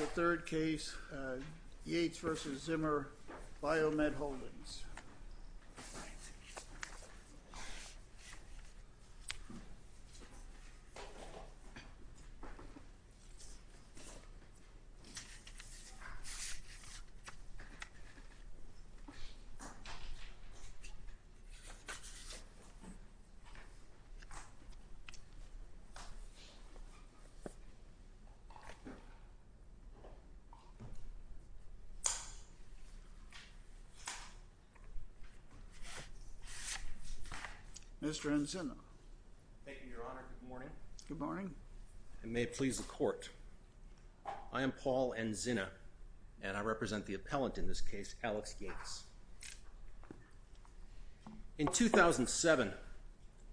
Yeatts v. Zimmer Biomet Holdings, Inc. Mr. Enzina. Thank you, Your Honor. Good morning. Good morning. I may please the Court. I am Paul Enzina, and I represent the appellant in this case, Alex Yeatts. In 2007,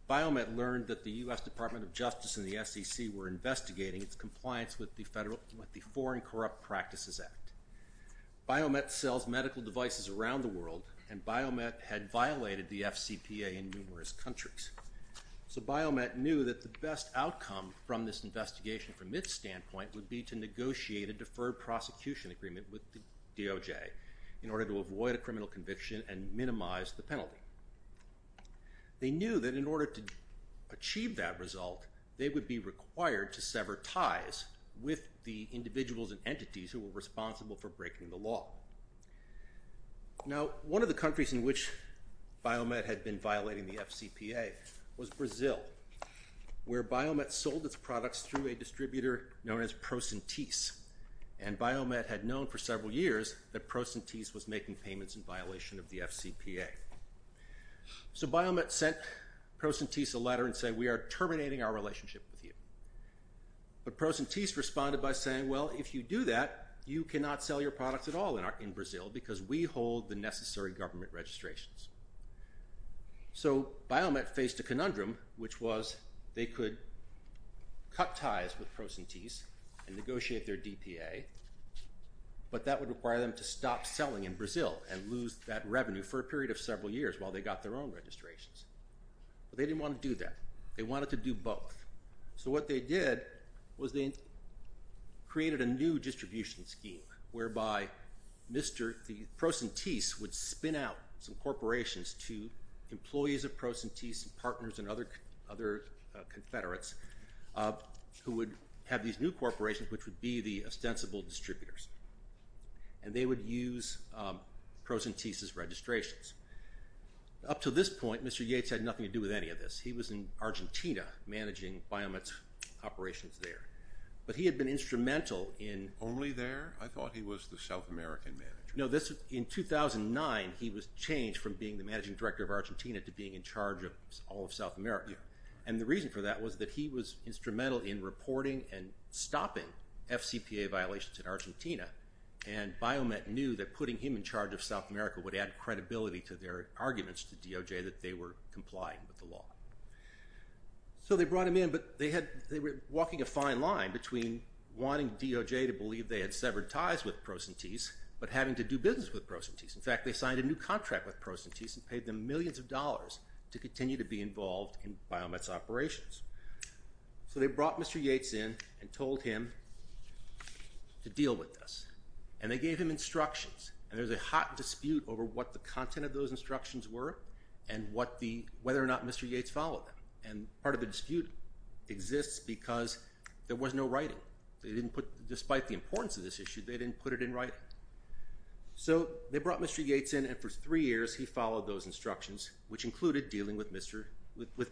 Biomet learned that the U.S. Department of Justice and the SEC were investigating its compliance with the Foreign Corrupt Practices Act. Biomet sells medical devices around the world, and Biomet had violated the FCPA in numerous countries. So Biomet knew that the best outcome from this investigation, from its standpoint, would be to negotiate a deferred prosecution agreement with the DOJ in order to avoid a criminal conviction and minimize the penalty. They knew that in order to achieve that result, they would be required to sever ties with the individuals and entities who were responsible for breaking the law. Now, one of the countries in which Biomet had been violating the FCPA was Brazil, where Biomet sold its products through a distributor known as Procentis. And Biomet had known for several years that Procentis was making payments in violation of the FCPA. So Biomet sent Procentis a letter and said, we are terminating our relationship with you. But Procentis responded by saying, well, if you do that, you cannot sell your products at all in Brazil because we hold the necessary government registrations. So Biomet faced a conundrum, which was they could cut ties with Procentis and negotiate their DPA, but that would require them to stop selling in Brazil and lose that revenue for a period of several years while they got their own registrations. But they didn't want to do that. They wanted to do both. So what they did was they created a new distribution scheme whereby the Procentis would spin out some corporations to employees of Procentis and partners and other confederates who would have these new corporations, which would be the ostensible distributors. And they would use Procentis's registrations. Up to this point, Mr. Yates had nothing to do with any of this. He was in Argentina managing Biomet's operations there. But he had been instrumental in- Only there? I thought he was the South American manager. No, in 2009, he was changed from being the managing director of Argentina to being in charge of all of South America. And the reason for that was that he was instrumental in reporting and stopping FCPA violations in Argentina. And Biomet knew that putting him in charge of South America would add credibility to their arguments to DOJ that they were complying with the law. So they brought him in, but they were walking a fine line between wanting DOJ to believe they had severed ties with Procentis, but having to do business with Procentis. In fact, they signed a new contract with Procentis and paid them millions of dollars to continue to be involved in Biomet's operations. So they brought Mr. Yates in and told him to deal with this. And they gave him instructions. And there's a hot dispute over what the content of those instructions were and whether or not Mr. Yates followed them. And part of the dispute exists because there was no writing. Despite the importance of this issue, they didn't put it in writing. So they brought Mr. Yates in, and for three years, he followed those instructions, which included dealing with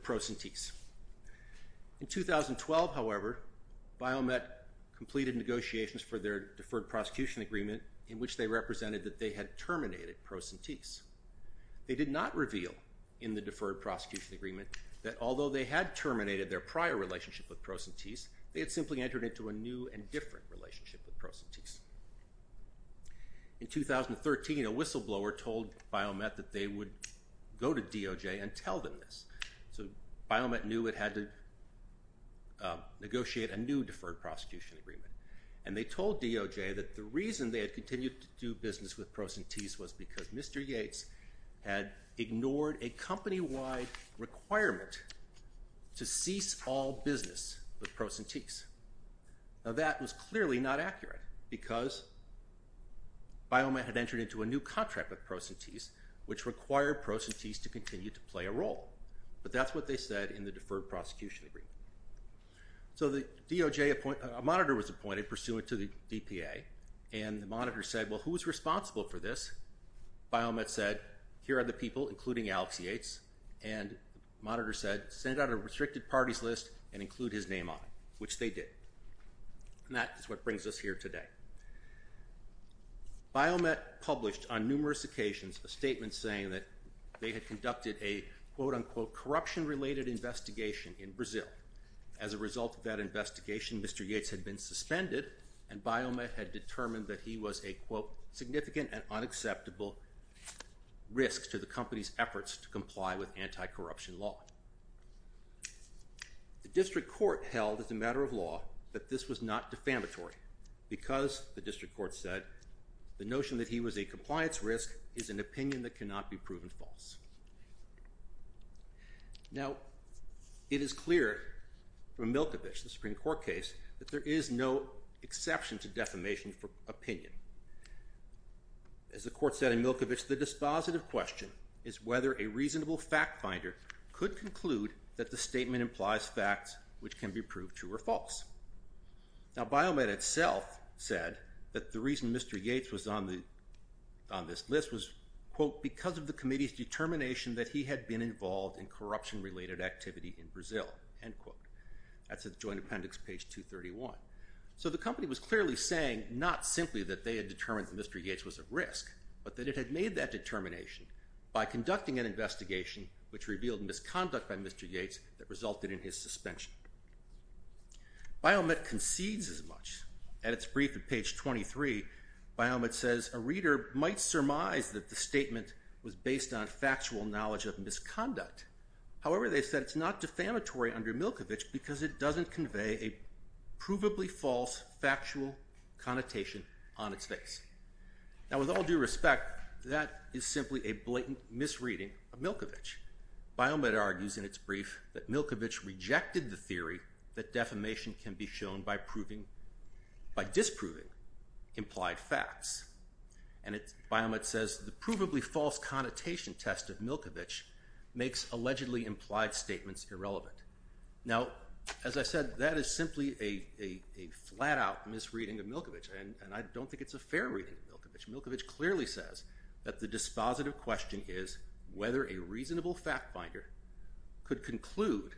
Procentis. In 2012, however, Biomet completed negotiations for their deferred prosecution agreement in which they represented that they had terminated Procentis. They did not reveal in the deferred prosecution agreement that although they had terminated their prior relationship with Procentis, they had simply entered into a new and different relationship with Procentis. In 2013, a whistleblower told Biomet that they would go to DOJ and tell them this. So Biomet knew it had to negotiate a new deferred prosecution agreement. And they told DOJ that the reason they had continued to do business with Procentis was because Mr. Yates had ignored a company-wide requirement to cease all business with Procentis. Now, that was clearly not accurate because Biomet had entered into a new contract with Procentis, which required Procentis to continue to play a role. But that's what they said in the deferred prosecution agreement. So the DOJ, a monitor was appointed pursuant to the DPA, and the monitor said, well, who is responsible for this? Biomet said, here are the people, including Alex Yates. And the monitor said, send out a restricted parties list and include his name on it, which they did. And that is what brings us here today. Biomet published on numerous occasions a statement saying that they had conducted a, quote, unquote, corruption-related investigation in Brazil. As a result of that investigation, Mr. Yates had been suspended, and Biomet had determined that he was a, quote, to comply with anti-corruption law. The district court held, as a matter of law, that this was not defamatory because, the district court said, the notion that he was a compliance risk is an opinion that cannot be proven false. Now, it is clear from Milkovich, the Supreme Court case, that there is no exception to defamation for opinion. As the court said in Milkovich, the dispositive question is whether a reasonable fact finder could conclude that the statement implies facts which can be proved true or false. Now, Biomet itself said that the reason Mr. Yates was on this list was, quote, because of the committee's determination that he had been involved in corruption-related activity in Brazil, end quote. That's at the joint appendix, page 231. So, the company was clearly saying, not simply that they had determined that Mr. Yates was at risk, but that it had made that determination by conducting an investigation which revealed misconduct by Mr. Yates that resulted in his suspension. Biomet concedes as much. At its brief at page 23, Biomet says, a reader might surmise that the statement was based on factual knowledge of misconduct. However, they said it's not defamatory under Milkovich because it doesn't convey a provably false factual connotation on its face. Now, with all due respect, that is simply a blatant misreading of Milkovich. Biomet argues in its brief that Milkovich rejected the theory that defamation can be shown by disproving implied facts. And Biomet says, the provably false connotation test of Milkovich makes allegedly implied statements irrelevant. Now, as I said, that is simply a flat-out misreading of Milkovich, and I don't think it's a fair reading of Milkovich. Milkovich clearly says that the dispositive question is whether a reasonable fact-finder could conclude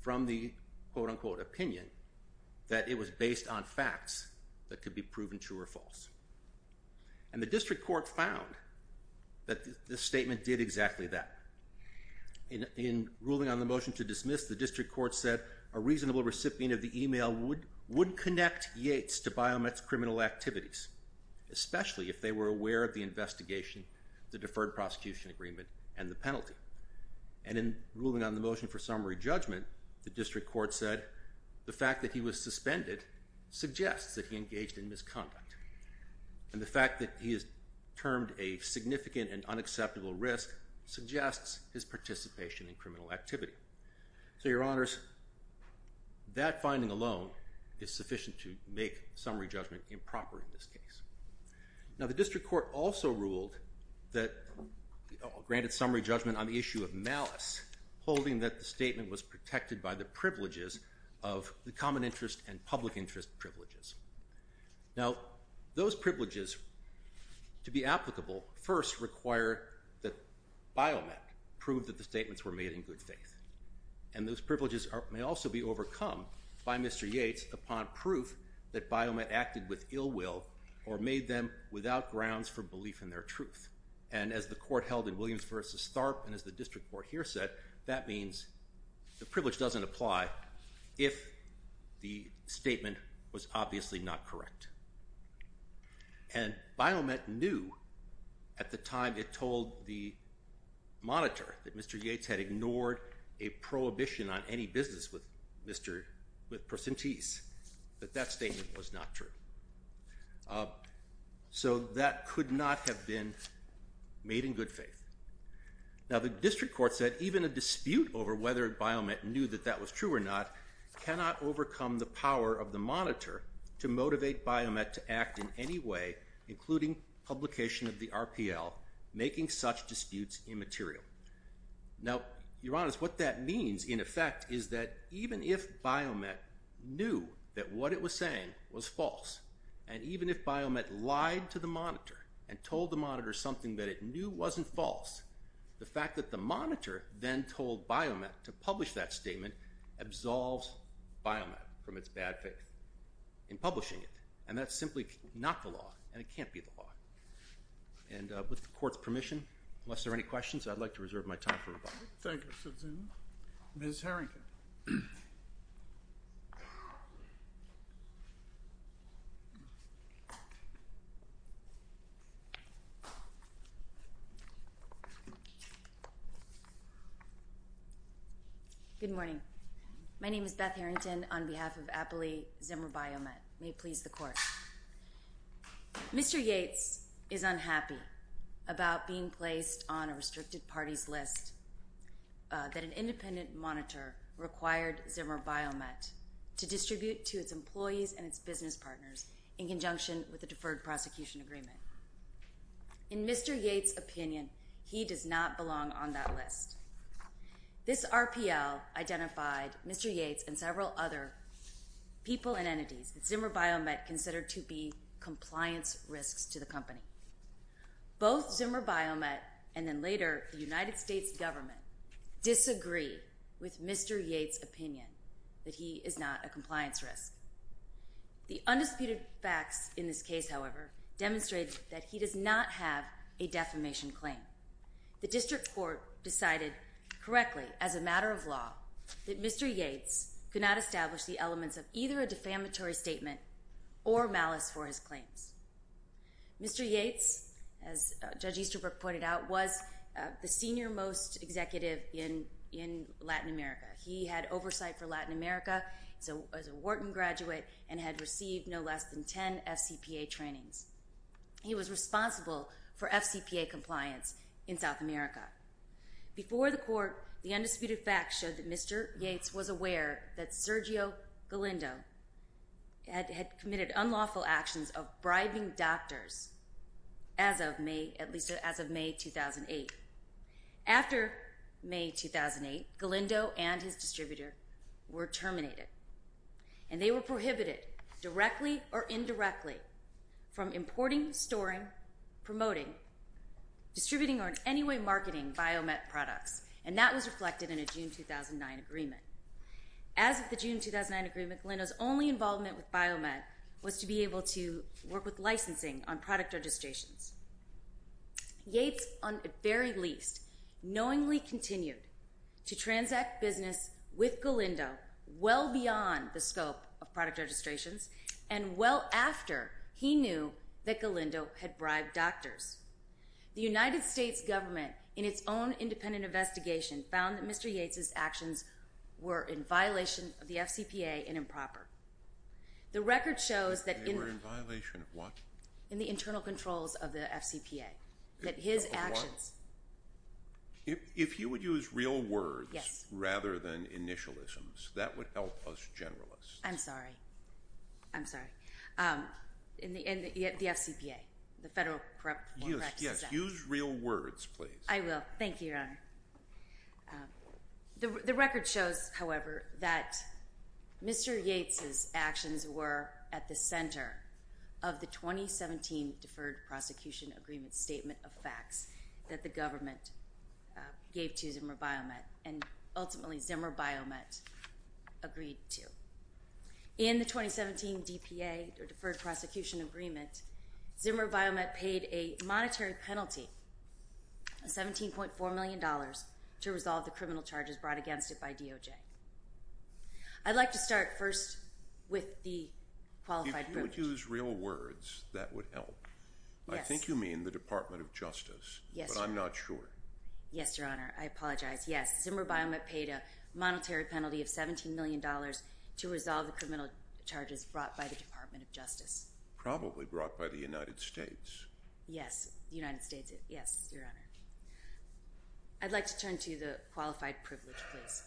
from the quote-unquote opinion that it was based on facts that could be proven true or false. And the district court found that this statement did exactly that. In ruling on the motion to dismiss, the district court said a reasonable recipient of the email would connect Yates to Biomet's criminal activities, especially if they were aware of the investigation, the deferred prosecution agreement, and the penalty. And in ruling on the motion for summary judgment, the district court said the fact that he was suspended suggests that he engaged in misconduct. And the fact that he is termed a significant and unacceptable risk suggests his participation in criminal activity. So, your honors, that finding alone is sufficient to make summary judgment improper in this case. Now, the district court also ruled that it granted summary judgment on the issue of malice, holding that the statement was protected by the privileges of the common interest and public interest privileges. Now, those privileges, to be applicable, first require that Biomet prove that the statements were made in good faith. And those privileges may also be overcome by Mr. Yates upon proof that Biomet acted with ill will or made them without grounds for belief in their truth. And as the court held in Williams v. Tharp and as the district court here said, that means the privilege doesn't apply if the statement was obviously not correct. And Biomet knew at the time it told the monitor that Mr. Yates had ignored a prohibition on any business with Mr. Percentise, that that statement was not true. So that could not have been made in good faith. Now, the district court said even a dispute over whether Biomet knew that that was true or not cannot overcome the power of the monitor to motivate Biomet to act in any way, including publication of the RPL, making such disputes immaterial. Now, Your Honors, what that means, in effect, is that even if Biomet knew that what it was saying was false, and even if Biomet lied to the monitor and told the monitor something that it knew wasn't false, the fact that the monitor then told Biomet to publish that statement absolves Biomet from its bad faith in publishing it. And that's simply not the law, and it can't be the law. And with the court's permission, unless there are any questions, I'd like to reserve my time for rebuttal. Thank you, Mr. Zimmer. Ms. Harrington. Good morning. My name is Beth Harrington on behalf of Appley Zimmer Biomet. May it please the court. Mr. Yates is unhappy about being placed on a restricted parties list that an independent monitor required Zimmer Biomet to distribute to its employees and its business partners in conjunction with a deferred prosecution agreement. In Mr. Yates' opinion, he does not belong on that list. This RPL identified Mr. Yates and several other people and entities that Zimmer Biomet considered to be compliance risks to the company. Both Zimmer Biomet and then later the United States government disagree with Mr. Yates' opinion that he is not a compliance risk. The undisputed facts in this case, however, demonstrate that he does not have a defamation claim. The district court decided correctly as a matter of law that Mr. Yates could not establish the elements of either a defamatory statement or malice for his claims. Mr. Yates, as Judge Easterbrook pointed out, was the senior most executive in Latin America. He had oversight for Latin America. He was a Wharton graduate and had received no less than 10 FCPA trainings. He was responsible for FCPA compliance in South America. Before the court, the undisputed facts showed that Mr. Yates was aware that Sergio Galindo had committed unlawful actions of bribing doctors as of May 2008. After May 2008, Galindo and his distributor were terminated. And they were prohibited directly or indirectly from importing, storing, promoting, distributing, or in any way marketing Biomet products. And that was reflected in a June 2009 agreement. As of the June 2009 agreement, Galindo's only involvement with Biomet was to be able to work with licensing on product registrations. Yates, on the very least, knowingly continued to transact business with Galindo well beyond the scope of product registrations and well after he knew that Galindo had bribed doctors. The United States government, in its own independent investigation, found that Mr. Yates's actions were in violation of the FCPA and improper. They were in violation of what? In the internal controls of the FCPA. Of what? If you would use real words rather than initialisms, that would help us generalists. I'm sorry. I'm sorry. In the end, the FCPA, the Federal Corrections Act. Yes, use real words, please. I will. Thank you, Your Honor. The record shows, however, that Mr. Yates's actions were at the center of the 2017 Deferred Prosecution Agreement Statement of Facts that the government gave to Zimmer Biomet and ultimately Zimmer Biomet agreed to. In the 2017 DPA, or Deferred Prosecution Agreement, Zimmer Biomet paid a monetary penalty of $17.4 million to resolve the criminal charges brought against it by DOJ. I'd like to start first with the qualified privilege. If you would use real words, that would help. Yes. I think you mean the Department of Justice. Yes, Your Honor. But I'm not sure. Yes, Your Honor. I apologize. Yes. Zimmer Biomet paid a monetary penalty of $17 million to resolve the criminal charges brought by the Department of Justice. Probably brought by the United States. Yes, the United States. Yes, Your Honor. I'd like to turn to the qualified privilege, please.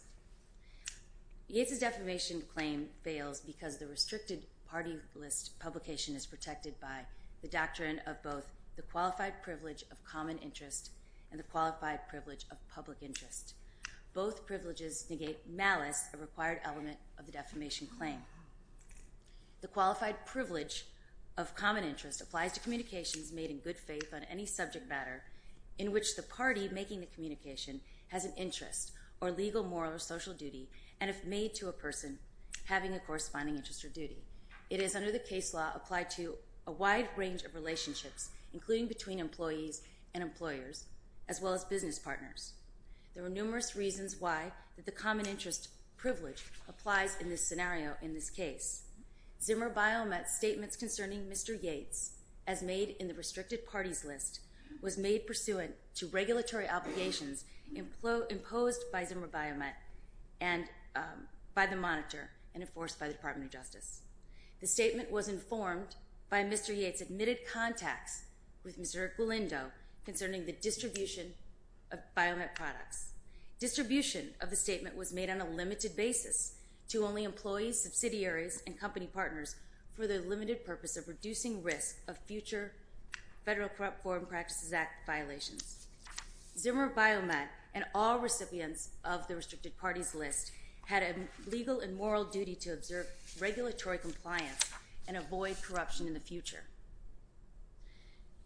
Yates's defamation claim fails because the restricted party list publication is protected by the doctrine of both the qualified privilege of common interest and the qualified privilege of public interest. Both privileges negate malice, a required element of the defamation claim. The qualified privilege of common interest applies to communications made in good faith on any subject matter in which the party making the communication has an interest or legal, moral, or social duty, and if made to a person, having a corresponding interest or duty. It is, under the case law, applied to a wide range of relationships, including between employees and employers, as well as business partners. There are numerous reasons why the common interest privilege applies in this scenario, in this case. Zimmer Biomet's statements concerning Mr. Yates, as made in the restricted parties list, was made pursuant to regulatory obligations imposed by Zimmer Biomet by the monitor and enforced by the Department of Justice. The statement was informed by Mr. Yates' admitted contacts with Mr. Equilindo concerning the distribution of Biomet products. Distribution of the statement was made on a limited basis to only employees, subsidiaries, and company partners for the limited purpose of reducing risk of future Federal Corrupt Foreign Practices Act violations. Zimmer Biomet and all recipients of the restricted parties list had a legal and moral duty to observe regulatory compliance and avoid corruption in the future.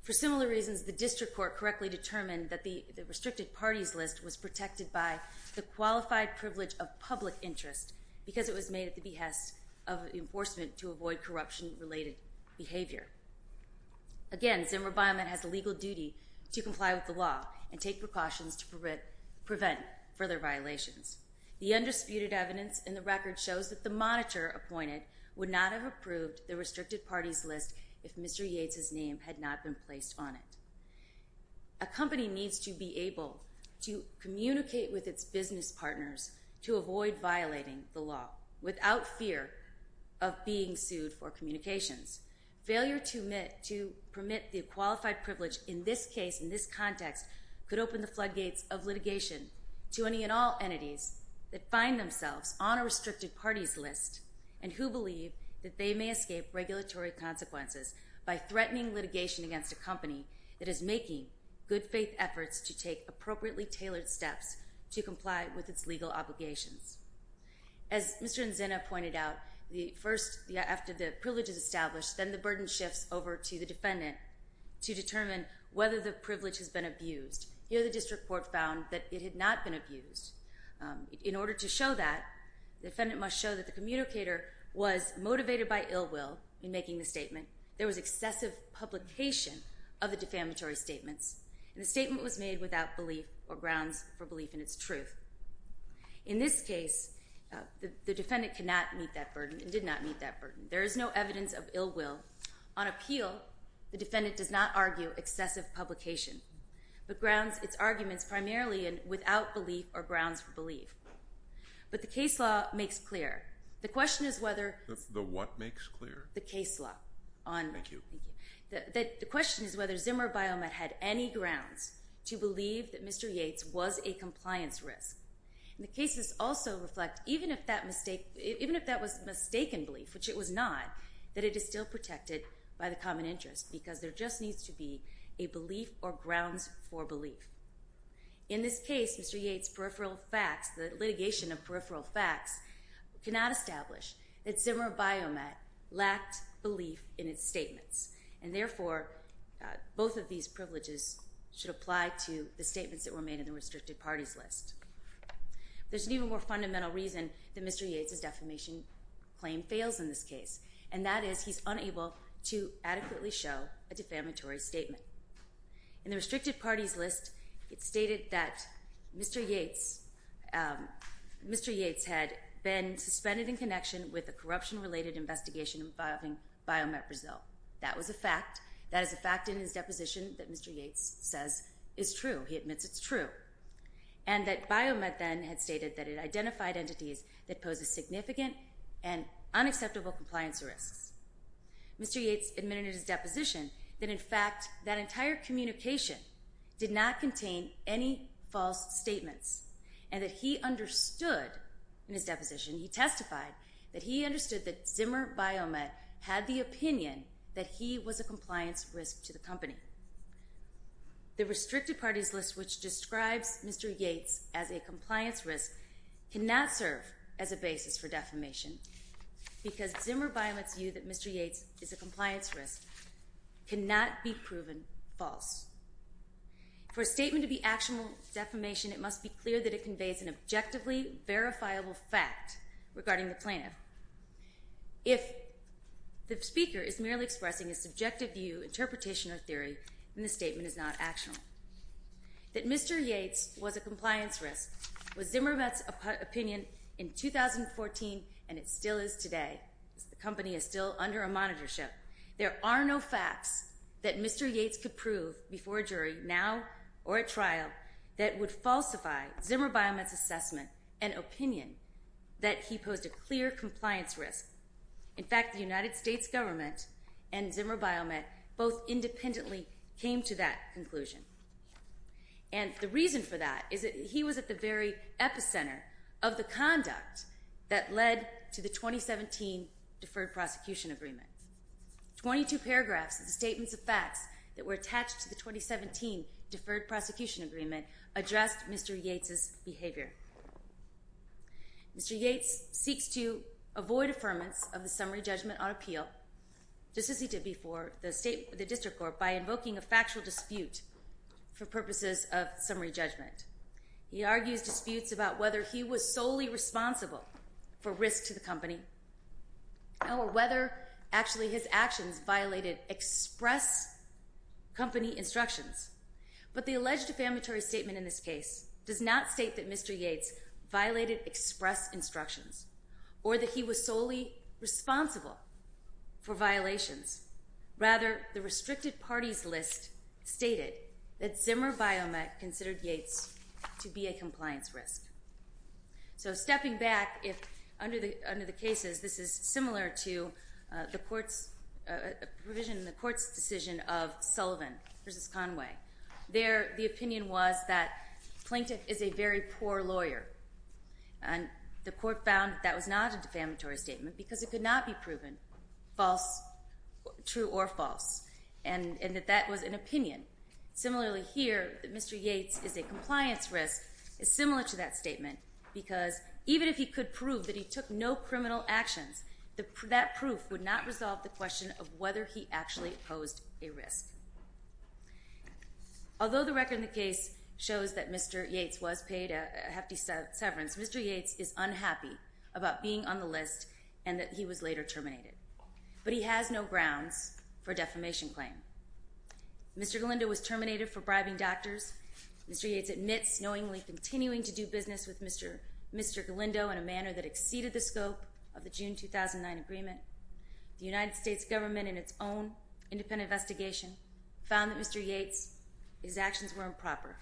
For similar reasons, the district court correctly determined that the restricted parties list was protected by the qualified privilege of public interest because it was made at the behest of enforcement to avoid corruption-related behavior. Again, Zimmer Biomet has a legal duty to comply with the law and take precautions to prevent further violations. The undisputed evidence in the record shows that the monitor appointed would not have approved the restricted parties list if Mr. Yates' name had not been placed on it. A company needs to be able to communicate with its business partners to avoid violating the law without fear of being sued for communications. Failure to permit the qualified privilege in this case, in this context, could open the floodgates of litigation to any and all entities that find themselves on a restricted parties list and who believe that they may escape regulatory consequences by threatening litigation against a company that is making good faith efforts to take appropriately tailored steps to comply with its legal obligations. As Mr. Nzinna pointed out, after the privilege is established, then the burden shifts over to the defendant to determine whether the privilege has been abused. Here the district court found that it had not been abused. In order to show that, the defendant must show that the communicator was motivated by ill will in making the statement, there was excessive publication of the defamatory statements, and the statement was made without belief or grounds for belief in its truth. In this case, the defendant could not meet that burden and did not meet that burden. There is no evidence of ill will. On appeal, the defendant does not argue excessive publication, but grounds its arguments primarily without belief or grounds for belief. But the case law makes clear. The question is whether... The what makes clear? The case law. Thank you. The question is whether Zimmer Biomet had any grounds to believe that Mr. Yates was a compliance risk. The cases also reflect, even if that was mistaken belief, which it was not, that it is still protected by the common interest because there just needs to be a belief or grounds for belief. In this case, Mr. Yates' peripheral facts, the litigation of peripheral facts, cannot establish that Zimmer Biomet lacked belief in its statements. And therefore, both of these privileges should apply to the statements that were made in the restricted parties list. There's an even more fundamental reason that Mr. Yates' defamation claim fails in this case, and that is he's unable to adequately show a defamatory statement. In the restricted parties list, it's stated that Mr. Yates had been suspended in connection with a corruption-related investigation involving Biomet Brazil. That was a fact. That is a fact in his deposition that Mr. Yates says is true. He admits it's true. And that Biomet then had stated that it identified entities that pose a significant and unacceptable compliance risks. Mr. Yates admitted in his deposition that, in fact, that entire communication did not contain any false statements. And that he understood, in his deposition, he testified that he understood that Zimmer Biomet had the opinion that he was a compliance risk to the company. The restricted parties list, which describes Mr. Yates as a compliance risk, cannot serve as a basis for defamation, because Zimmer Biomet's view that Mr. Yates is a compliance risk cannot be proven false. For a statement to be actionable defamation, it must be clear that it conveys an objectively verifiable fact regarding the plaintiff. If the speaker is merely expressing a subjective view, interpretation, or theory, then the statement is not actionable. That Mr. Yates was a compliance risk was Zimmer Biomet's opinion in 2014, and it still is today. The company is still under a monitorship. There are no facts that Mr. Yates could prove before a jury now or at trial that would falsify Zimmer Biomet's assessment and opinion that he posed a clear compliance risk. In fact, the United States government and Zimmer Biomet both independently came to that conclusion. And the reason for that is that he was at the very epicenter of the conduct that led to the 2017 Deferred Prosecution Agreement. Twenty-two paragraphs of the statements of facts that were attached to the 2017 Deferred Prosecution Agreement addressed Mr. Yates's behavior. Mr. Yates seeks to avoid affirmance of the summary judgment on appeal, just as he did before the district court, by invoking a factual dispute for purposes of summary judgment. He argues disputes about whether he was solely responsible for risk to the company or whether actually his actions violated express company instructions. But the alleged affirmatory statement in this case does not state that Mr. Yates violated express instructions or that he was solely responsible for violations. Rather, the restricted parties list stated that Zimmer Biomet considered Yates to be a compliance risk. So stepping back, under the cases, this is similar to the court's decision of Sullivan v. Conway. There, the opinion was that Plinkton is a very poor lawyer. And the court found that that was not a defamatory statement because it could not be proven false, true or false, and that that was an opinion. Similarly here, that Mr. Yates is a compliance risk is similar to that statement because even if he could prove that he took no criminal actions, that proof would not resolve the question of whether he actually posed a risk. Although the record in the case shows that Mr. Yates was paid a hefty severance, Mr. Yates is unhappy about being on the list and that he was later terminated. But he has no grounds for a defamation claim. Mr. Galindo was terminated for bribing doctors. Mr. Yates admits knowingly continuing to do business with Mr. Galindo in a manner that exceeded the scope of the June 2009 agreement. The United States government, in its own independent investigation, found that Mr. Yates' actions were improper.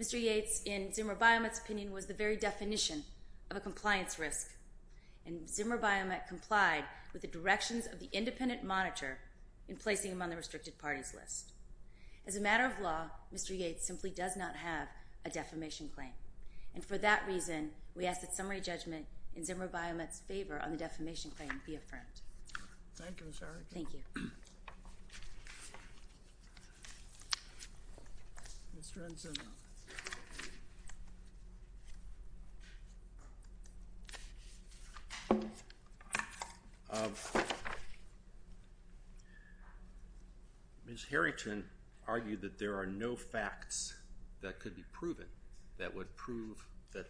Mr. Yates, in Zimmer Biomet's opinion, was the very definition of a compliance risk. And Zimmer Biomet complied with the directions of the independent monitor in placing him on the restricted parties list. As a matter of law, Mr. Yates simply does not have a defamation claim. And for that reason, we ask that summary judgment in Zimmer Biomet's favor on the defamation claim be affirmed. Thank you, Ms. Erickson. Thank you. Mr. Ensign. Ms. Harrington argued that there are no facts that could be proven that would prove that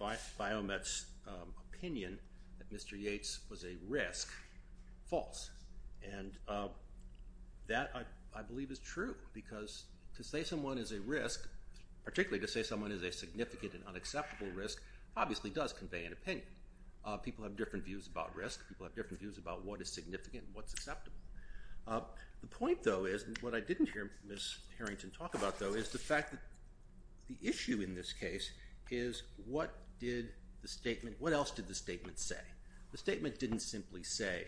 Biomet's opinion that Mr. Yates was a risk false. And that, I believe, is true. Because to say someone is a risk, particularly to say someone is a significant and unacceptable risk, obviously does convey an opinion. People have different views about risk. People have different views about what is significant and what's acceptable. The point, though, is what I didn't hear Ms. Harrington talk about, though, is the fact that the issue in this case is what else did the statement say? The statement didn't simply say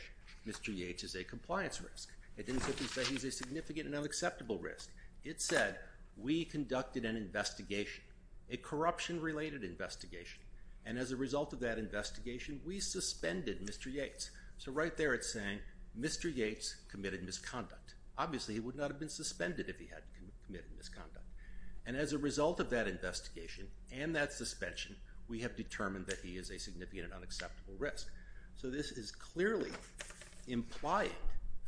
Mr. Yates is a compliance risk. It didn't simply say he's a significant and unacceptable risk. It said we conducted an investigation, a corruption-related investigation. And as a result of that investigation, we suspended Mr. Yates. So right there it's saying Mr. Yates committed misconduct. Obviously, he would not have been suspended if he hadn't committed misconduct. And as a result of that investigation and that suspension, we have determined that he is a significant and unacceptable risk. So this is clearly implying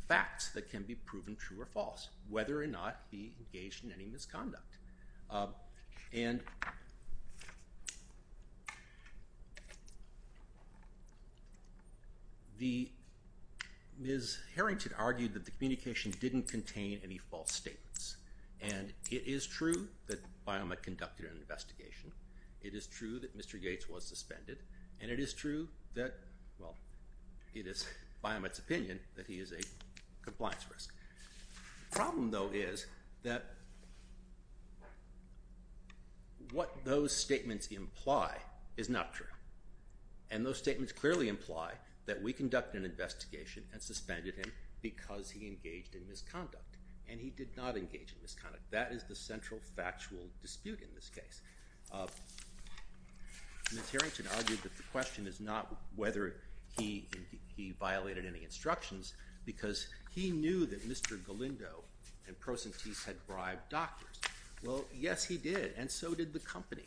facts that can be proven true or false, whether or not he engaged in any misconduct. And Ms. Harrington argued that the communication didn't contain any false statements. And it is true that Biomet conducted an investigation. It is true that Mr. Yates was suspended. And it is true that, well, it is Biomet's opinion that he is a compliance risk. The problem, though, is that what those statements imply is not true. And those statements clearly imply that we conducted an investigation and suspended him because he engaged in misconduct. And he did not engage in misconduct. That is the central factual dispute in this case. Ms. Harrington argued that the question is not whether he violated any instructions because he knew that Mr. Galindo and Procentis had bribed doctors. Well, yes, he did. And so did the company.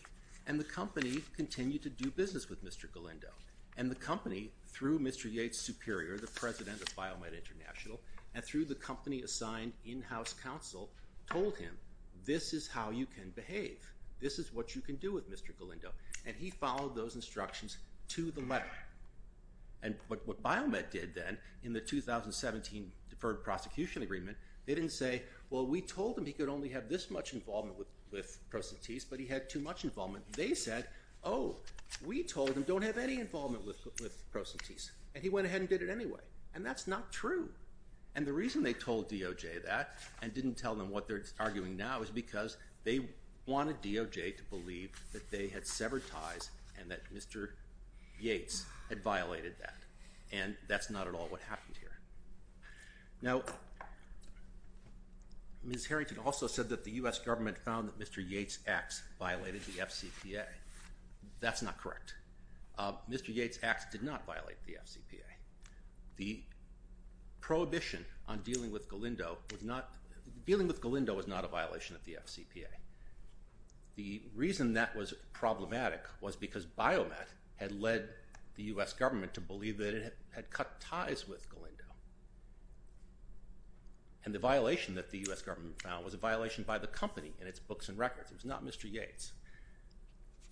And the company continued to do business with Mr. Galindo. And the company, through Mr. Yates Superior, the president of Biomet International, and through the company assigned in-house counsel, told him, this is how you can behave. This is what you can do with Mr. Galindo. And he followed those instructions to the letter. And what Biomet did then in the 2017 Deferred Prosecution Agreement, they didn't say, well, we told him he could only have this much involvement with Procentis, but he had too much involvement. They said, oh, we told him, don't have any involvement with Procentis. And he went ahead and did it anyway. And that's not true. And the reason they told DOJ that and didn't tell them what they're arguing now is because they wanted DOJ to believe that they had severed ties and that Mr. Yates had violated that. And that's not at all what happened here. Now, Ms. Harrington also said that the U.S. government found that Mr. Yates' acts violated the FCPA. That's not correct. Mr. Yates' acts did not violate the FCPA. The prohibition on dealing with Galindo was not a violation of the FCPA. The reason that was problematic was because Biomet had led the U.S. government to believe that it had cut ties with Galindo. And the violation that the U.S. government found was a violation by the company in its books and records. It was not Mr. Yates.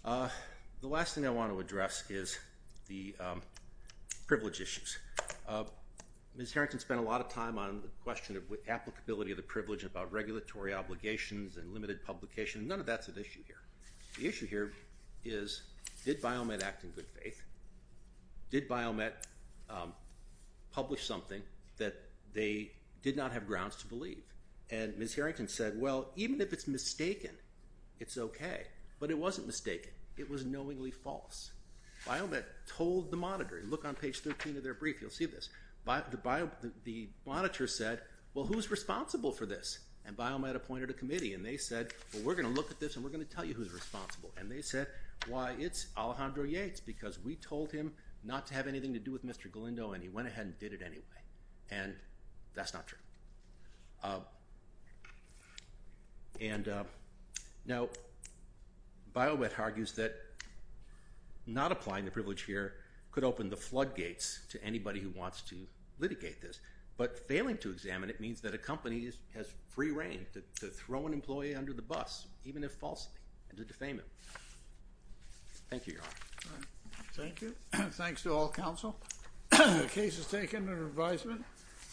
The last thing I want to address is the privilege issues. Ms. Harrington spent a lot of time on the question of applicability of the privilege and about regulatory obligations and limited publication. None of that's an issue here. The issue here is did Biomet act in good faith? Did Biomet publish something that they did not have grounds to believe? And Ms. Harrington said, well, even if it's mistaken, it's okay. But it wasn't mistaken. It was knowingly false. Biomet told the monitor, look on page 13 of their brief, you'll see this. The monitor said, well, who's responsible for this? And Biomet appointed a committee. And they said, well, we're going to look at this and we're going to tell you who's responsible. And they said, why, it's Alejandro Yates because we told him not to have anything to do with Mr. Galindo and he went ahead and did it anyway. And that's not true. And now Biomet argues that not applying the privilege here could open the floodgates to anybody who wants to litigate this. But failing to examine it means that a company has free reign to throw an employee under the bus, even if falsely, and to defame him. Thank you, Your Honor. Thank you. Thanks to all counsel. The case is taken under advisement.